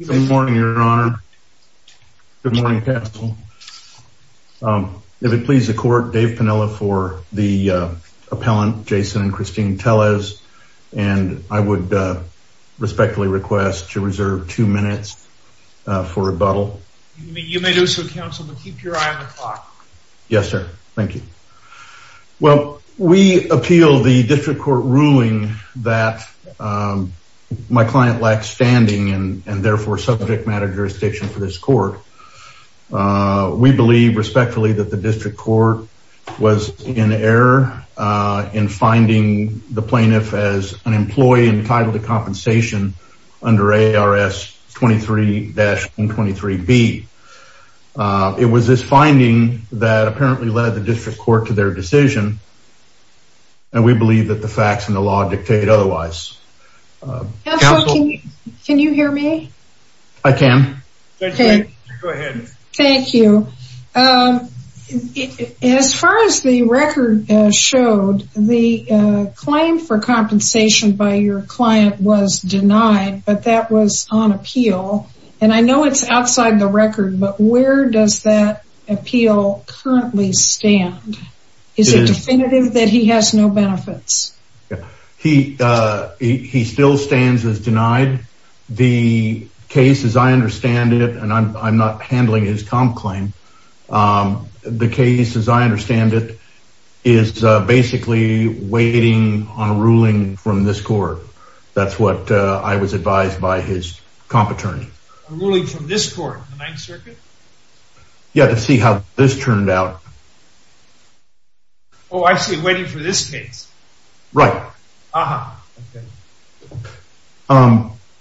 Good morning, Your Honor. Good morning, counsel. If it pleases the court, Dave Piniella for the appellant, Jason and Christine Tellez, and I would respectfully request to reserve two minutes for rebuttal. You may do so, counsel, but keep your eye on the clock. Yes, sir. Thank you. Well, we appeal the district court ruling that my client lacks standing and therefore subject matter jurisdiction for this court. We believe respectfully that the district court was in error in finding the plaintiff as an employee entitled to compensation under ARS 23-123B. It was this finding that apparently led the district court to their decision, and we believe that the facts and the law dictate otherwise. Counsel, can you hear me? I can. Go ahead. Thank you. As far as the record showed, the claim for compensation by your client was denied, but that was on appeal. And I know it's outside the record, but where does that appeal currently stand? Is it definitive that he has no benefits? He still stands as denied. The case, as I understand it, and I'm not handling his comp claim, the case, as I understand it, is basically waiting on a ruling from this court. That's what I was advised by his comp attorney. A ruling from this court, the Ninth Circuit? Yeah, to see how this turned out. Oh, I see. Waiting for this case. Right.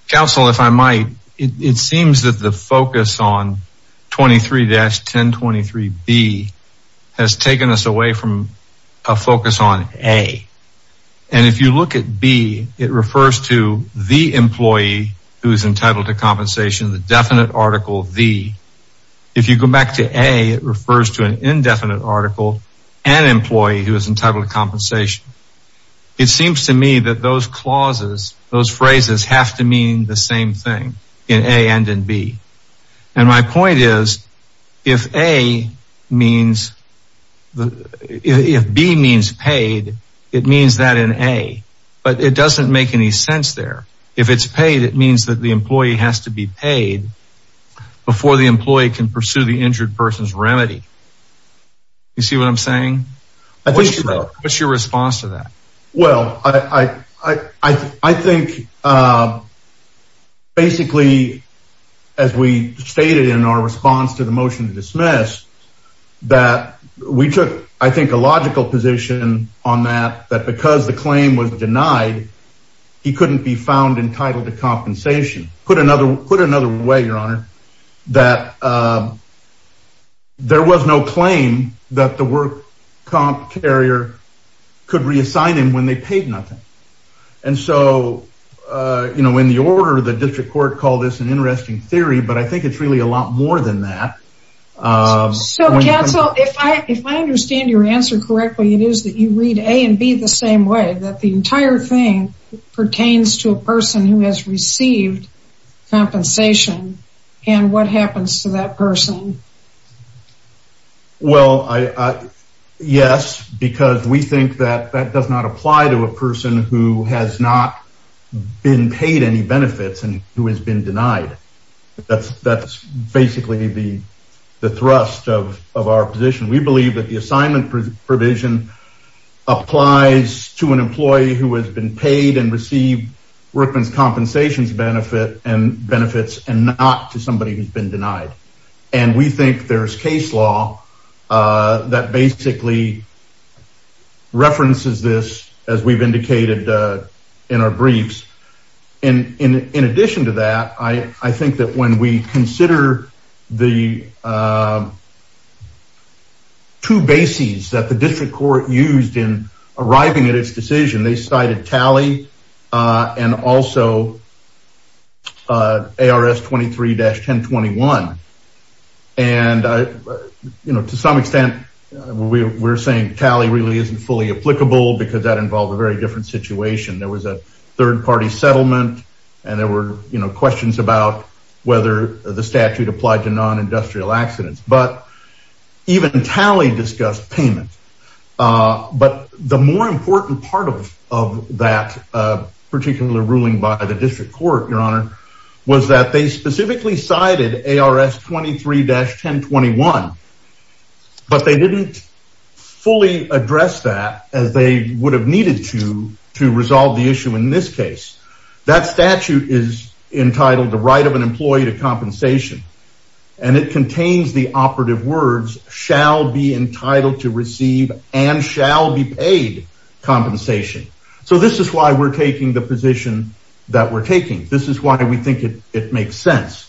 Counsel, if I might, it seems that the focus on 23-1023B has taken us away from a focus on A. And if you look at B, it refers to the employee who is entitled to compensation, the definite article B. If you go back to A, it refers to an indefinite article, an employee who is entitled to compensation. It seems to me that those clauses, those phrases have to mean the same thing in A and in B. And my point is, if A means, if B means paid, it means that in A, but it doesn't make any sense there. If it's paid, it means that the employee has to be paid before the employee can pursue the injured person's remedy. You see what I'm saying? I think so. What's your response to that? Well, I think, basically, as we stated in our response to the motion to dismiss, that we took, I think, a logical position on that, that because the claim was denied, he couldn't be found entitled to compensation. Put another way, Your Honor, that there was no claim that the work comp carrier could reassign him when they paid nothing. And so, you know, in the order, the district court called this an interesting theory, but I think it's really a lot more than that. So, counsel, if I understand your answer correctly, it is that you read A and B the same way, that the entire thing pertains to a person who has received compensation, and what happens to that person? Well, yes, because we think that that does not apply to a person who has not been paid any benefits and who has been denied. That's basically the thrust of our position. We believe that the assignment provision applies to an employee who has been paid and received Workman's Compensation's benefits and not to somebody who's been denied. And we think there's case law that basically references this, as we've indicated in our briefs. And in addition to that, I think that when we consider the two bases that the district court used in arriving at its decision, they cited tally and also ARS 23-1021. And, you know, to some extent, we're saying tally really isn't fully applicable because that involved a very different situation. There was a third party settlement, and there were questions about whether the statute applied to non-industrial accidents, but even tally discussed payment. But the more important part of that particular ruling by the district court, Your Honor, was that they specifically cited ARS 23-1021. But they didn't fully address that as they would have needed to, to resolve the issue in this case. That statute is entitled the right of an employee to compensation, and it contains the operative words, shall be entitled to receive and shall be paid compensation. So this is why we're taking the position that we're taking. This is why we think it makes sense.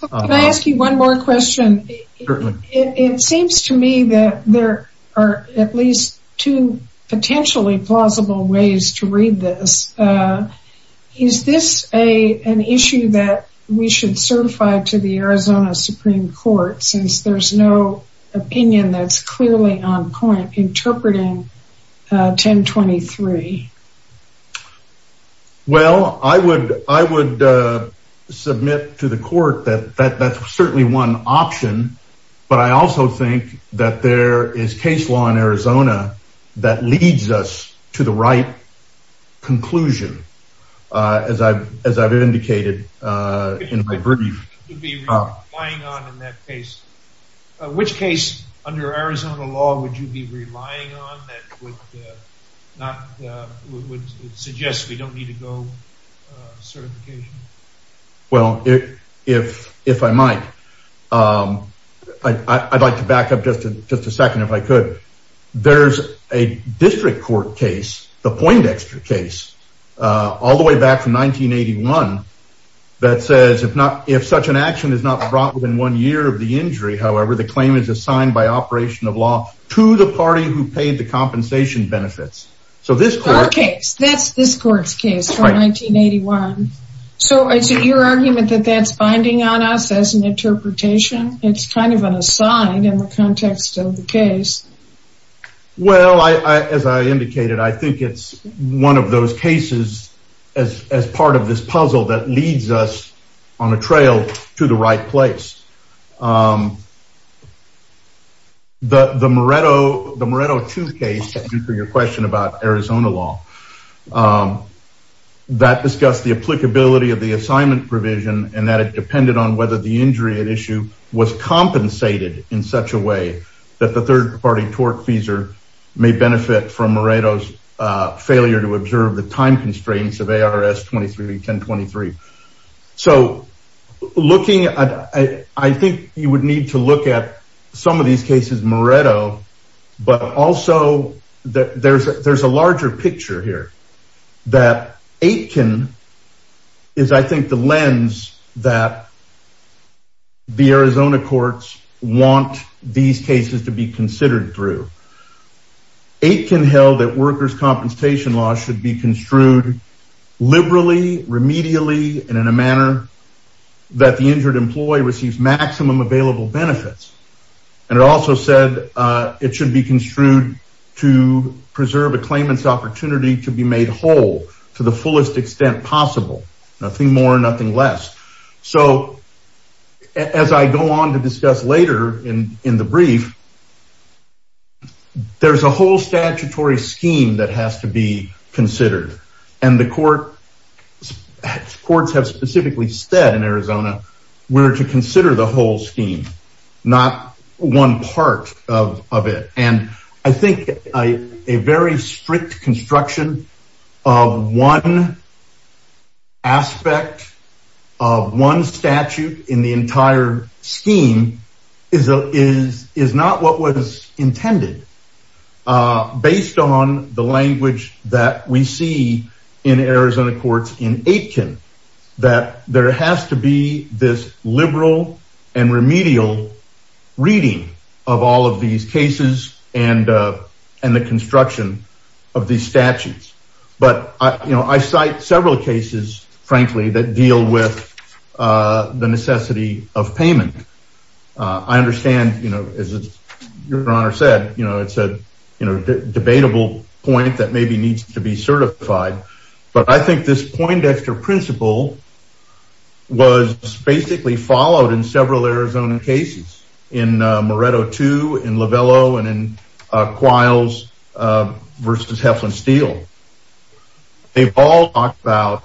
Can I ask you one more question? It seems to me that there are at least two potentially plausible ways to read this. Is this an issue that we should certify to the Arizona Supreme Court since there's no opinion that's clearly on point interpreting 1023? Well, I would, I would submit to the court that that's certainly one option, but I also think that there is case law in Arizona that leads us to the right conclusion, as I've, as I've indicated, in my brief. You'd be relying on in that case, which case under Arizona law would you be relying on that would not, would suggest we don't need to go certification? Well, if, if, if I might, I'd like to back up just a, just a second, if I could. There's a district court case, the Poindexter case, all the way back from 1981, that says if not, if such an action is not brought within one year of the injury, however, the claim is assigned by operation of law to the party who paid the compensation benefits. So this court case, that's this court's case from 1981. So is it your argument that that's binding on us as an interpretation? It's kind of an aside in the context of the case. Well, I, as I indicated, I think it's one of those cases as, as part of this puzzle that leads us on a trail to the right place. The, the Moretto, the Moretto two case for your question about Arizona law. That discussed the applicability of the assignment provision and that it depended on whether the injury at issue was compensated in such a way that the third party tortfeasor may benefit from Moretto's failure to observe the time constraints of ARS 23, 10, 23. So looking at, I think you would need to look at some of these cases, Moretto, but also that there's, there's a larger picture here that Aitken is, I think, the lens that the Arizona courts want these cases to be considered through. Aitken held that workers' compensation law should be construed liberally, remedially, and in a manner that the injured employee receives maximum available benefits. And it also said it should be construed to preserve a claimant's opportunity to be made whole to the fullest extent possible. Nothing more, nothing less. So as I go on to discuss later in the brief, there's a whole statutory scheme that has to be considered and the court, courts have specifically said in Arizona, we're to consider the whole scheme, not one part of it. And I think a very strict construction of one aspect of one statute in the entire scheme is, is, is not what was intended based on the language that we see in Arizona courts in Aitken, that there has to be this liberal and remedial reading of all of these cases and, and the construction of these statutes. But I, you know, I cite several cases, frankly, that deal with the necessity of payment. I understand, you know, as your honor said, you know, it's a debatable point that maybe needs to be certified. But I think this poindexter principle was basically followed in several Arizona cases, in Moreto 2, in Lovello, and in Quiles versus Heflin Steel. They've all talked about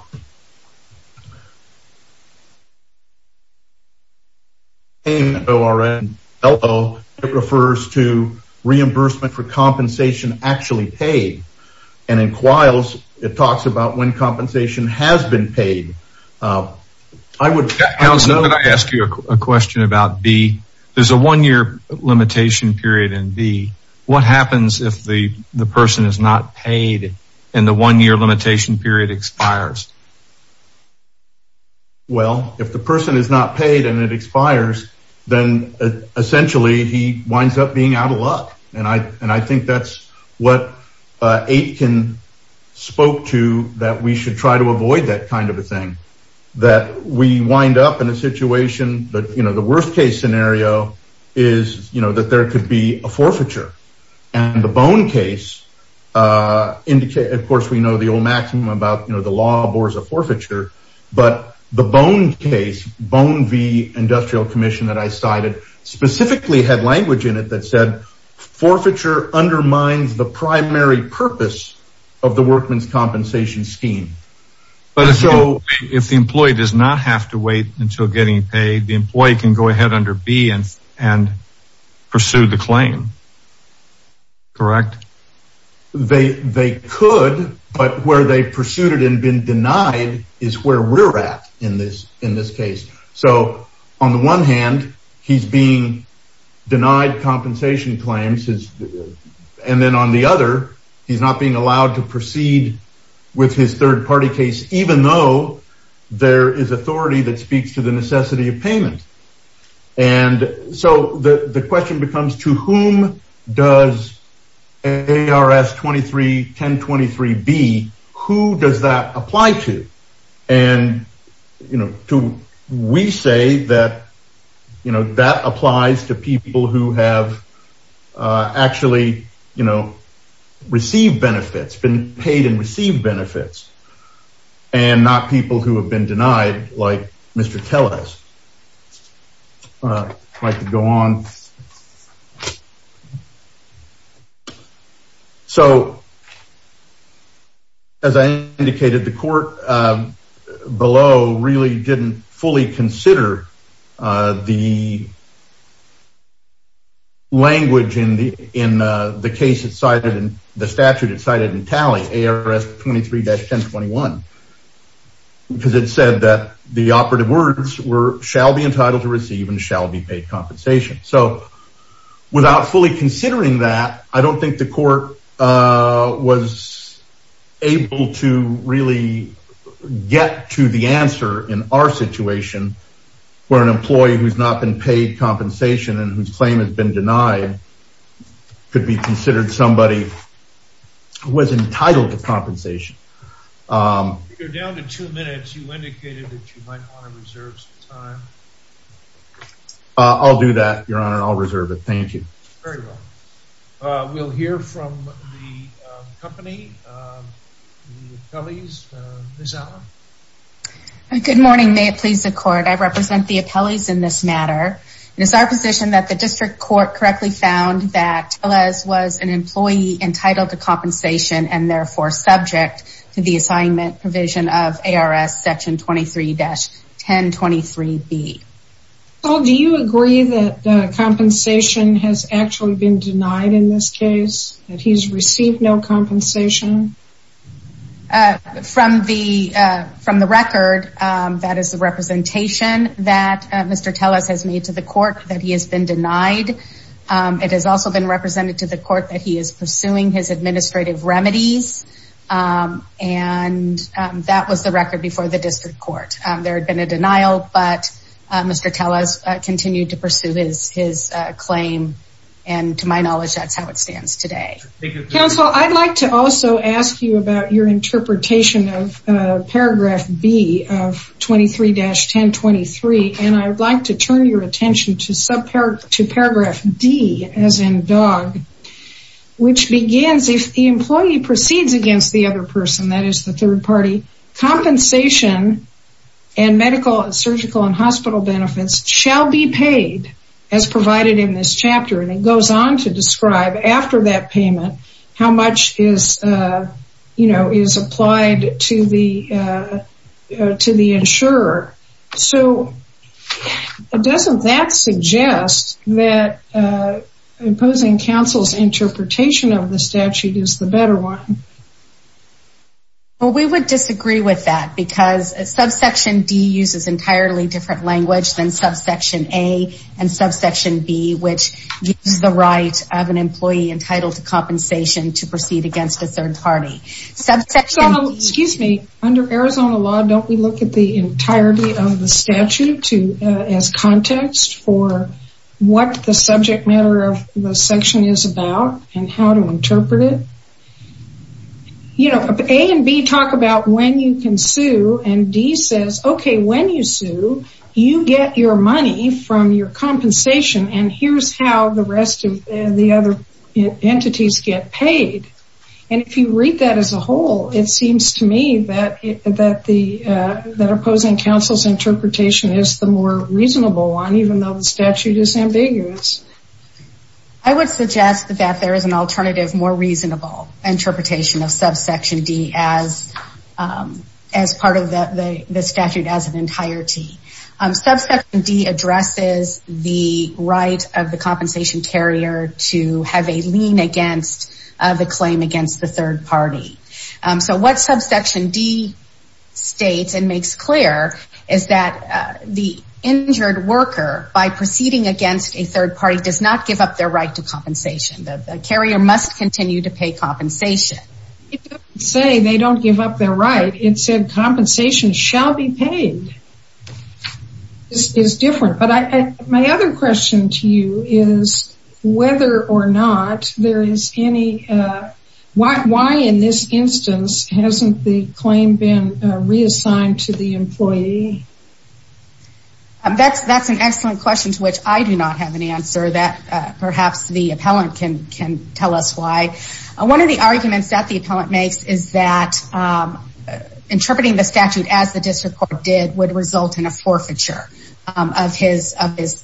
paying O.R. in Lovello, it refers to reimbursement for compensation actually paid. And in Quiles, it talks about when compensation has been paid. I would ask you a question about B. There's a one year limitation period in B. What happens if the person is not paid and the one year limitation period expires? Well, if the person is not paid and it expires, then essentially, he winds up being out of luck. And I, and I think that's what Aitken spoke to that we should try to avoid that kind of a thing, that we wind up in a situation that, you know, the worst case scenario is, you know, that there could be a forfeiture. And the Bone case, of course, we know the old maxim about, you know, the law abhors a forfeiture. But the Bone case, Bone v. Industrial Commission that I cited specifically had language in it that said forfeiture undermines the primary purpose of the workman's compensation scheme. But so if the employee does not have to wait until getting paid, the employee can go ahead under B and and pursue the claim. Correct. They they could, but where they pursued it and been denied is where we're at in this in this case. So on the one hand, he's being denied compensation claims. And then on the other, he's not being allowed to proceed with his third party case, even though there is authority that speaks to the necessity of payment. And so the question becomes, to whom does ARS 231023 be? Who does that apply to? And, you know, to we say that, you know, that applies to people who have actually, you know, received benefits, been paid and received benefits and not people who have been denied, like Mr. Telles. I could go on. So. As I indicated, the court below really didn't fully consider the. Language in the in the case, it cited in the statute, it cited in tally ARS 23-1021. Because it said that the operative words were shall be entitled to receive and shall be paid compensation. So without fully considering that, I don't think the court was able to really get to the answer in our situation where an employee who's not been paid compensation and whose claim has been denied could be considered somebody who was entitled to compensation. You're down to two minutes. You indicated that you might want to reserve some time. I'll do that, Your Honor. I'll reserve it. Thank you. Very well. We'll hear from the company. The appellees. Ms. Allen. Good morning. May it please the court. I represent the appellees in this matter. It is our position that the district court correctly found that Telles was an employee entitled to compensation and therefore subject to the assignment provision of ARS section 23-1023B. Well, do you agree that compensation has actually been denied in this case that he's received no compensation? From the from the record, that is the representation that Mr. Telles has made to the court that he has been denied. It has also been represented to the court that he is pursuing his administrative remedies. And that was the record before the district court. There had been a denial, but Mr. Telles continued to pursue his claim. And to my knowledge, that's how it stands today. Counsel, I'd like to also ask you about your interpretation of paragraph B of 23-1023. And I would like to turn your attention to subpar to paragraph D as in dog, which begins if the employee proceeds against the other person, that is the third party compensation and medical and surgical and hospital benefits shall be paid as provided in this chapter. And it goes on to describe after that payment, how much is, you know, is applied to the to the insurer. So doesn't that suggest that imposing counsel's interpretation of the statute is the better one? Well, we would disagree with that because subsection D uses entirely different language than subsection A and subsection B, which gives the right of an employee entitled to compensation to proceed against a third party. So, excuse me, under Arizona law, don't we look at the entirety of the statute to as context for what the subject matter of the section is about and how to interpret it? You know, A and B talk about when you can sue and D says, OK, when you sue, you get your money from your compensation. And here's how the rest of the other entities get paid. And if you read that as a whole, it seems to me that that the that opposing counsel's interpretation is the more reasonable one, even though the statute is ambiguous. I would suggest that there is an alternative, more reasonable interpretation of subsection D as as part of the statute as an entirety. Subsection D addresses the right of the compensation carrier to have a lien against the claim against the third party. So what subsection D states and makes clear is that the injured worker, by proceeding against a third party, does not give up their right to compensation. The carrier must continue to pay compensation. It doesn't say they don't give up their right. It said compensation shall be paid. This is different. But my other question to you is whether or not there is any why in this instance hasn't the claim been reassigned to the employee? That's that's an excellent question to which I do not have an answer that perhaps the appellant can can tell us why. One of the arguments that the appellant makes is that interpreting the statute as the district court did would result in a forfeiture of his of his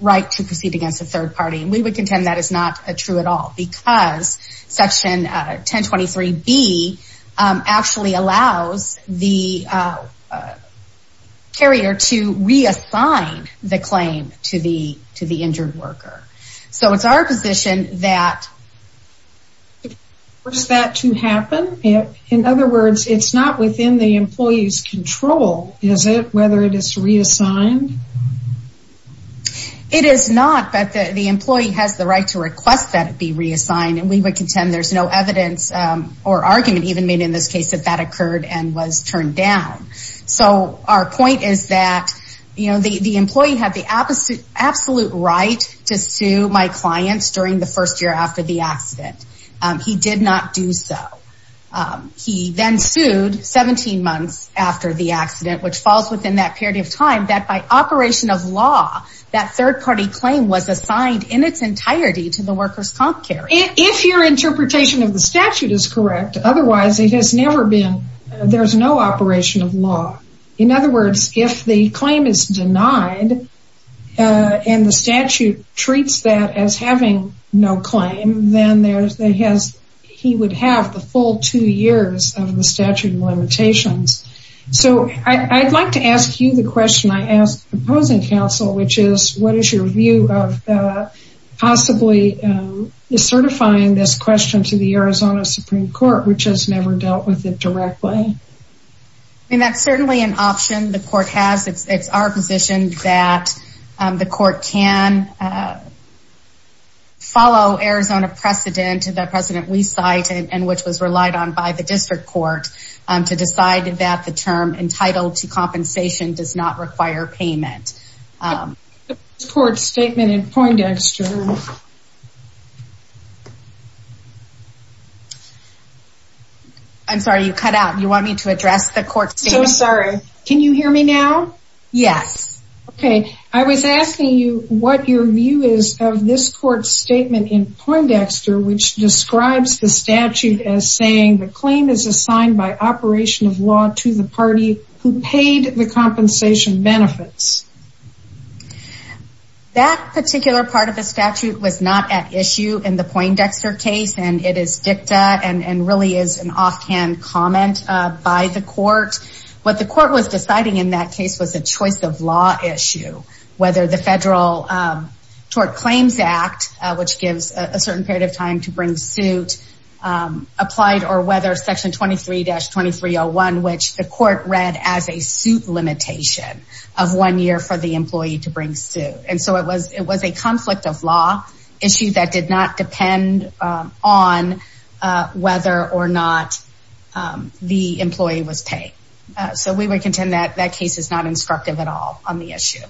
right to proceed against a third party. And we would contend that is not true at all because Section 1023B actually allows the carrier to reassign the claim to the to the injured worker. So it's our position that. For that to happen, in other words, it's not within the employee's control, is it, whether it is reassigned? It is not, but the employee has the right to request that it be reassigned and we would contend there's no evidence or argument even made in this case that that occurred and was turned down. So our point is that, you know, the employee had the absolute absolute right to sue my clients during the first year after the accident. He did not do so. He then sued 17 months after the accident, which falls within that period of time that by operation of law, that third party claim was assigned in its entirety to the workers' comp carry. If your interpretation of the statute is correct, otherwise it has never been, there's no operation of law. In other words, if the claim is denied and the statute treats that as having no claim, then he would have the full two years of the statute limitations. So I'd like to ask you the question I asked the opposing counsel, which is, what is your view of possibly certifying this question to the Arizona Supreme Court, which has never dealt with it directly? And that's certainly an option the court has. It's our position that the court can follow Arizona precedent, the precedent we cite and which was relied on by the district court to decide that the term entitled to compensation does not require payment. Court's statement in Poindexter. I'm sorry, you cut out. You want me to address the court? So sorry. Can you hear me now? Yes. Okay. I was asking you what your view is of this court statement in Poindexter, which describes the statute as saying the claim is assigned by operation of law to the party who paid the compensation benefits. That particular part of the statute was not at issue in the Poindexter case, and it is dicta and really is an offhand comment by the court. What the court was deciding in that case was a choice of law issue, whether the federal tort claims act, which gives a certain period of time to bring suit applied or whether section 23-2301, which the court read as a suit limitation of one year for the employee to bring suit. And so it was it was a conflict of law issue that did not depend on whether or not the employee was paid. So we would contend that that case is not instructive at all on the issue.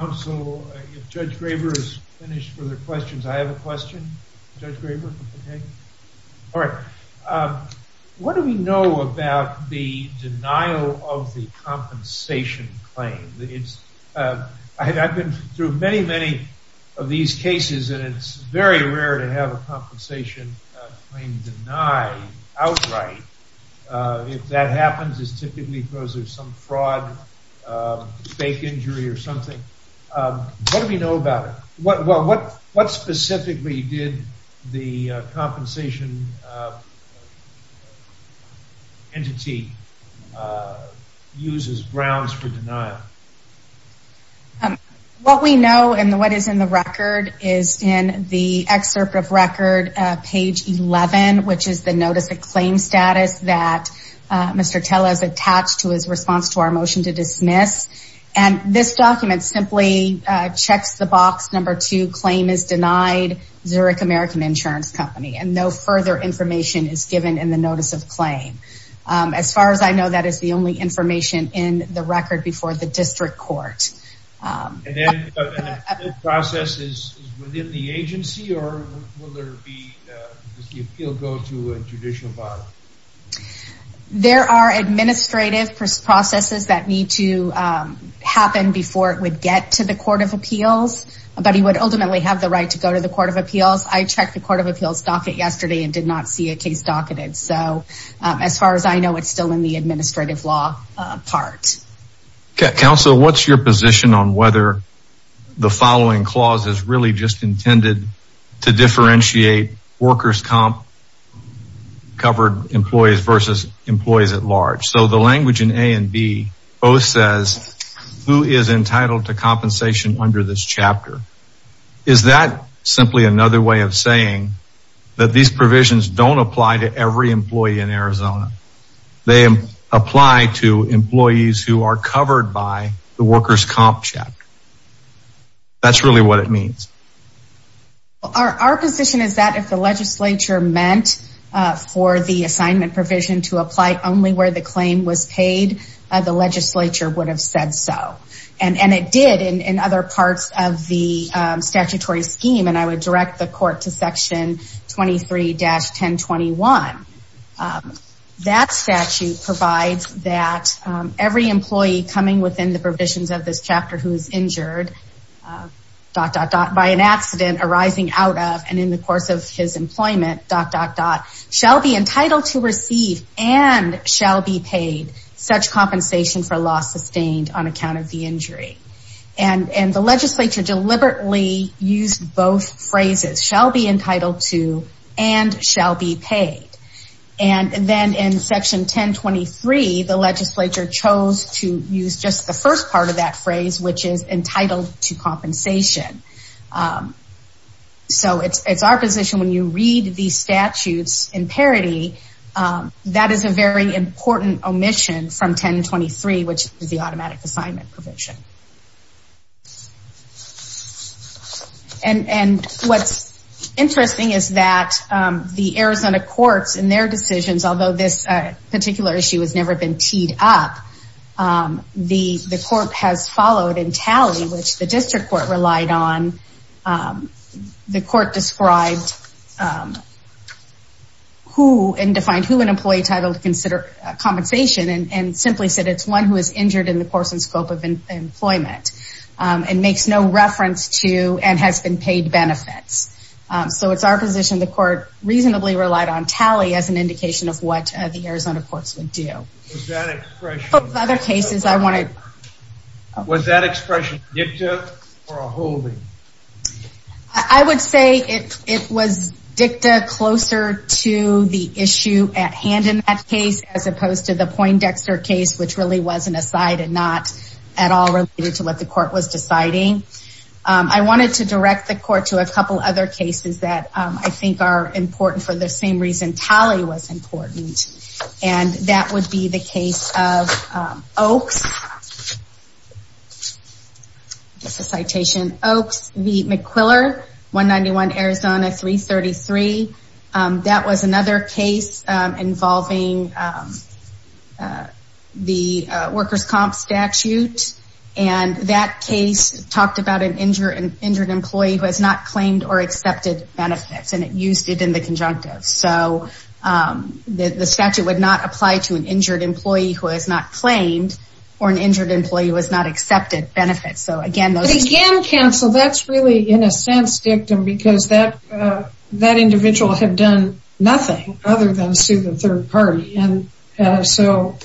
Also, if Judge Graber is finished for the questions, I have a question, Judge Graber. All right. What do we know about the denial of the compensation claim? It's I've been through many, many of these cases, and it's very rare to have a compensation claim denied outright. If that happens, it's typically because there's some fraud, fake injury or something. What do we know about it? Well, what what specifically did the compensation entity use as grounds for denial? What we know and what is in the record is in the excerpt of record, page 11, which is the notice of claim status that Mr. Teller's attached to his response to our motion to dismiss. And this document simply checks the box. Number two claim is denied. Zurich American Insurance Company and no further information is given in the notice of claim. As far as I know, that is the only information in the record before the district court. And then the process is within the agency or will there be the appeal go to a judicial body? There are administrative processes that need to happen before it would get to the court of appeals. But he would ultimately have the right to go to the court of appeals. I checked the court of appeals docket yesterday and did not see a case docketed. So as far as I know, it's still in the administrative law part. Counsel, what's your position on whether the following clause is really just intended to differentiate workers comp covered employees versus employees at large? So the language in A and B both says who is entitled to compensation under this chapter. Is that simply another way of saying that these provisions don't apply to every employee in Arizona? They apply to employees who are covered by the workers comp check. That's really what it means. Our position is that if the legislature meant for the assignment provision to apply only where the claim was paid, the legislature would have said so. And it did in other parts of the statutory scheme. And I would direct the court to section 23-1021. That statute provides that every employee coming within the provisions of this chapter who is injured, dot, dot, dot, by an accident arising out of and in the course of his employment, dot, dot, dot, shall be entitled to receive and shall be paid such compensation for loss sustained on account of the injury. And the legislature deliberately used both phrases, shall be entitled to and shall be paid. And then in section 1023, the legislature chose to use just the first part of that phrase, which is entitled to compensation. So it's our position when you read the statutes in parity, that is a very important omission from 1023, which is the automatic assignment provision. And what's interesting is that the Arizona courts in their decisions, although this particular issue has never been teed up, the court has followed in tally, which the district court relied on. The court described who and defined who an employee titled to consider compensation and simply said it's one who is injured in the course and scope of employment and makes no reference to and has been paid benefits. So it's our position the court reasonably relied on tally as an indication of what the Arizona courts would do. Other cases I wanted. Was that expression dicta or a holding? I would say it was dicta closer to the issue at hand in that case, as opposed to the Poindexter case, which really wasn't a side and not at all related to what the court was deciding. I wanted to direct the court to a couple other cases that I think are important for the same reason tally was important. And that would be the case of Oaks. It's a citation Oaks v. McQuiller, 191 Arizona 333. That was another case involving the workers comp statute. And that case talked about an injured employee who has not claimed or accepted benefits and it used it in the conjunctive. So the statute would not apply to an injured employee who has not claimed or an injured employee who has not accepted benefits. So again, again, counsel, that's really in a sense dictum because that that individual had done nothing other than sue the third party. So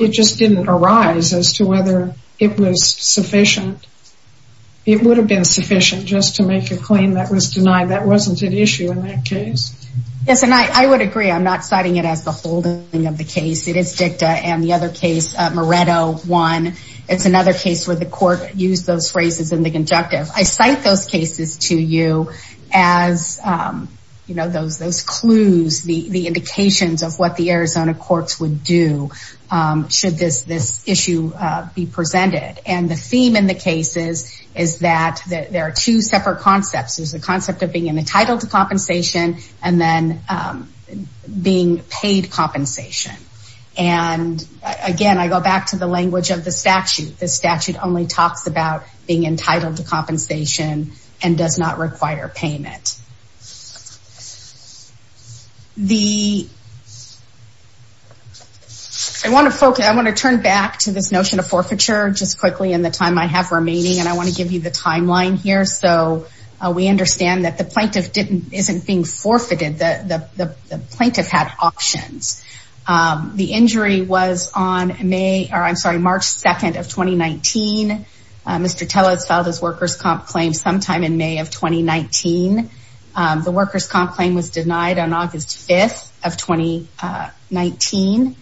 it just didn't arise as to whether it was sufficient. It would have been sufficient just to make a claim that was denied. That wasn't an issue in that case. Yes, and I would agree. I'm not citing it as the holding of the case. It is dicta and the other case Moretto 1. It's another case where the court use those phrases in the conjunctive. I cite those cases to you as you know, those those clues, the indications of what the Arizona courts would do should this this issue be presented. And the theme in the cases is that there are two separate concepts. There's the concept of being entitled to compensation and then being paid compensation. And again, I go back to the language of the statute. The statute only talks about being entitled to compensation and does not require payment. The I want to focus. I want to turn back to this notion of forfeiture. Just quickly in the time I have remaining. And I want to give you the timeline here so we understand that the plaintiff didn't isn't being forfeited the plaintiff had options. The injury was on May or I'm sorry, March 2 of 2019, Mr. Teller's filed his workers comp claim sometime in May of 2019. The workers comp claim was denied on August 5th of 2019.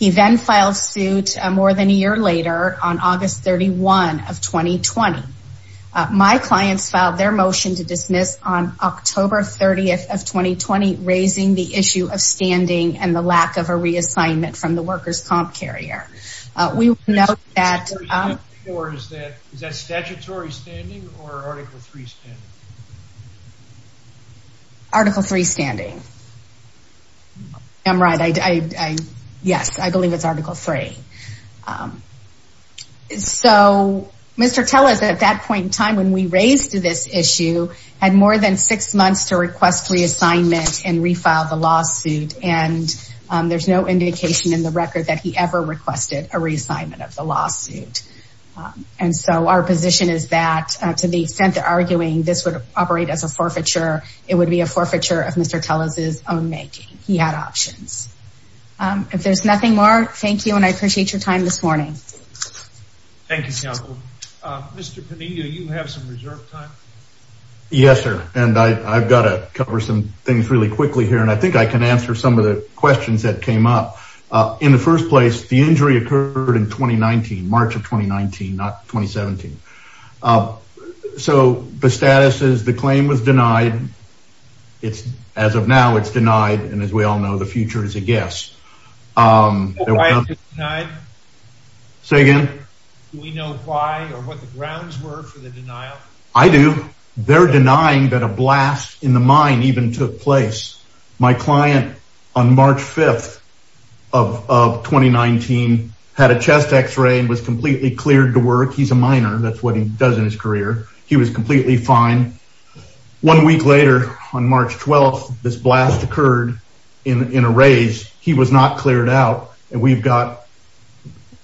He then filed suit more than a year later on August 31 of 2020. My clients filed their motion to dismiss on October 30th of 2020, raising the issue of standing and the lack of a reassignment from the workers comp carrier. We know that for is that is that statutory standing or Article 3 standing? Article 3 standing. I'm right. I, I, yes, I believe it's Article 3. So Mr. Teller's at that point in time when we raised this issue had more than six months to request reassignment and refile the lawsuit. And there's no indication in the record that he ever requested a reassignment of the lawsuit. And so our position is that to the extent that arguing this would operate as a forfeiture, it would be a forfeiture of Mr. Teller's own making. He had options. If there's nothing more, thank you. And I appreciate your time this morning. Thank you, counsel. Mr. Pineda, you have some reserve time. Yes, sir. And I've got to cover some things really quickly here. And I think I can answer some of the questions that came up in the first place. The injury occurred in 2019, March of 2019, not 2017. So the status is the claim was denied. It's as of now, it's denied. And as we all know, the future is a guess. Say again, we know why or what the grounds were for the denial. I do. They're denying that a blast in the mine even took place. My client on March 5th of 2019 had a chest X-ray and was completely cleared to work. He's a minor. That's what he does in his career. He was completely fine. One week later, on March 12th, this blast occurred in a raise. He was not cleared out. And we've got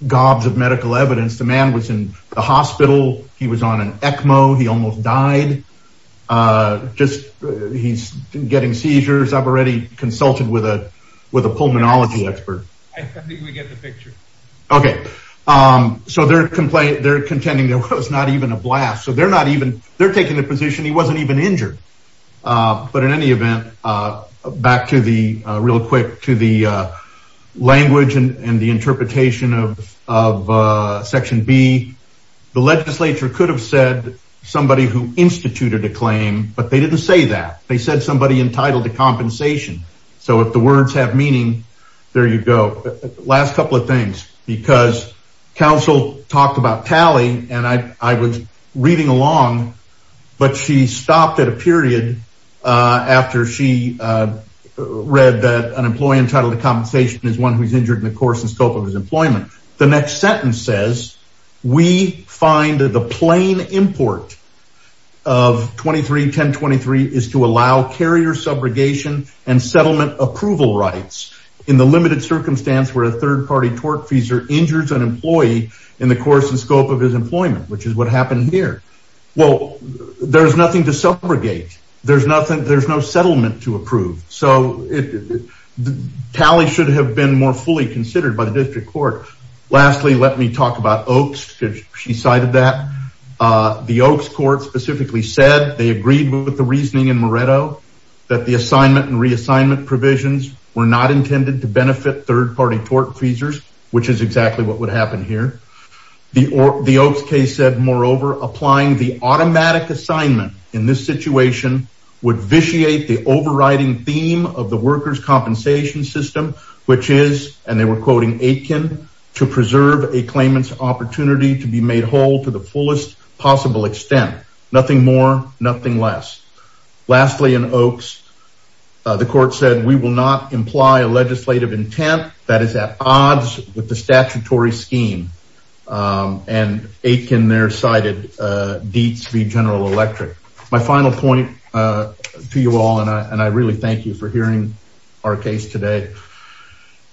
gobs of medical evidence. The man was in the hospital. He was on an ECMO. He almost died. He's getting seizures. I've already consulted with a pulmonology expert. I think we get the picture. Okay. So they're contending there was not even a blast. So they're taking the position he wasn't even injured. But in any event, back to the real quick to the language and the interpretation of Section B. The legislature could have said somebody who instituted a claim, but they didn't say that. They said somebody entitled to compensation. So if the words have meaning, there you go. Last couple of things, because counsel talked about tally, and I was reading along. But she stopped at a period after she read that an employee entitled to compensation is one who's injured in the course and scope of his employment. The next sentence says, we find that the plain import of 23-1023 is to allow carrier subrogation and settlement approval rights in the limited circumstance where a third-party tortfeasor injures an employee in the course and scope of his employment, which is what happened here. Well, there's nothing to subrogate. There's no settlement to approve. So tally should have been more fully considered by the district court. Lastly, let me talk about Oaks, because she cited that. The Oaks court specifically said they agreed with the reasoning in Moretto that the assignment and reassignment provisions were not intended to benefit third-party tortfeasors, which is exactly what would happen here. The Oaks case said, moreover, applying the automatic assignment in this situation would vitiate the overriding theme of the workers' compensation system, which is, and they were quoting Aitken, to preserve a claimant's opportunity to be made whole to the fullest possible extent. Nothing more, nothing less. Lastly, in Oaks, the court said we will not imply a legislative intent that is at odds with the statutory scheme, and Aitken there cited Dietz v. General Electric. My final point to you all, and I really thank you for hearing our case today,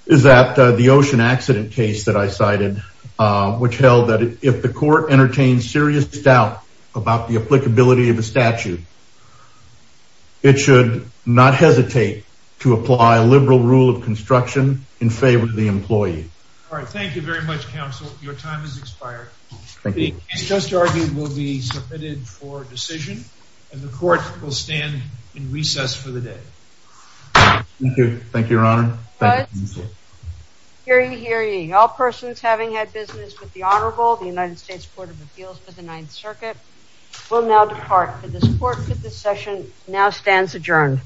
is that the ocean accident case that I cited, which held that if the court entertained serious doubt about the applicability of a statute, it should not hesitate to apply a liberal rule of construction in favor of the employee. All right, thank you very much, counsel. Your time has expired. The case just argued will be submitted for decision, and the court will stand in recess for the day. Thank you. Thank you, your honor. Hear ye, hear ye. All persons having had business with the Honorable, the United States Court of Appeals for the Ninth Circuit, will now depart. The court for this session now stands adjourned.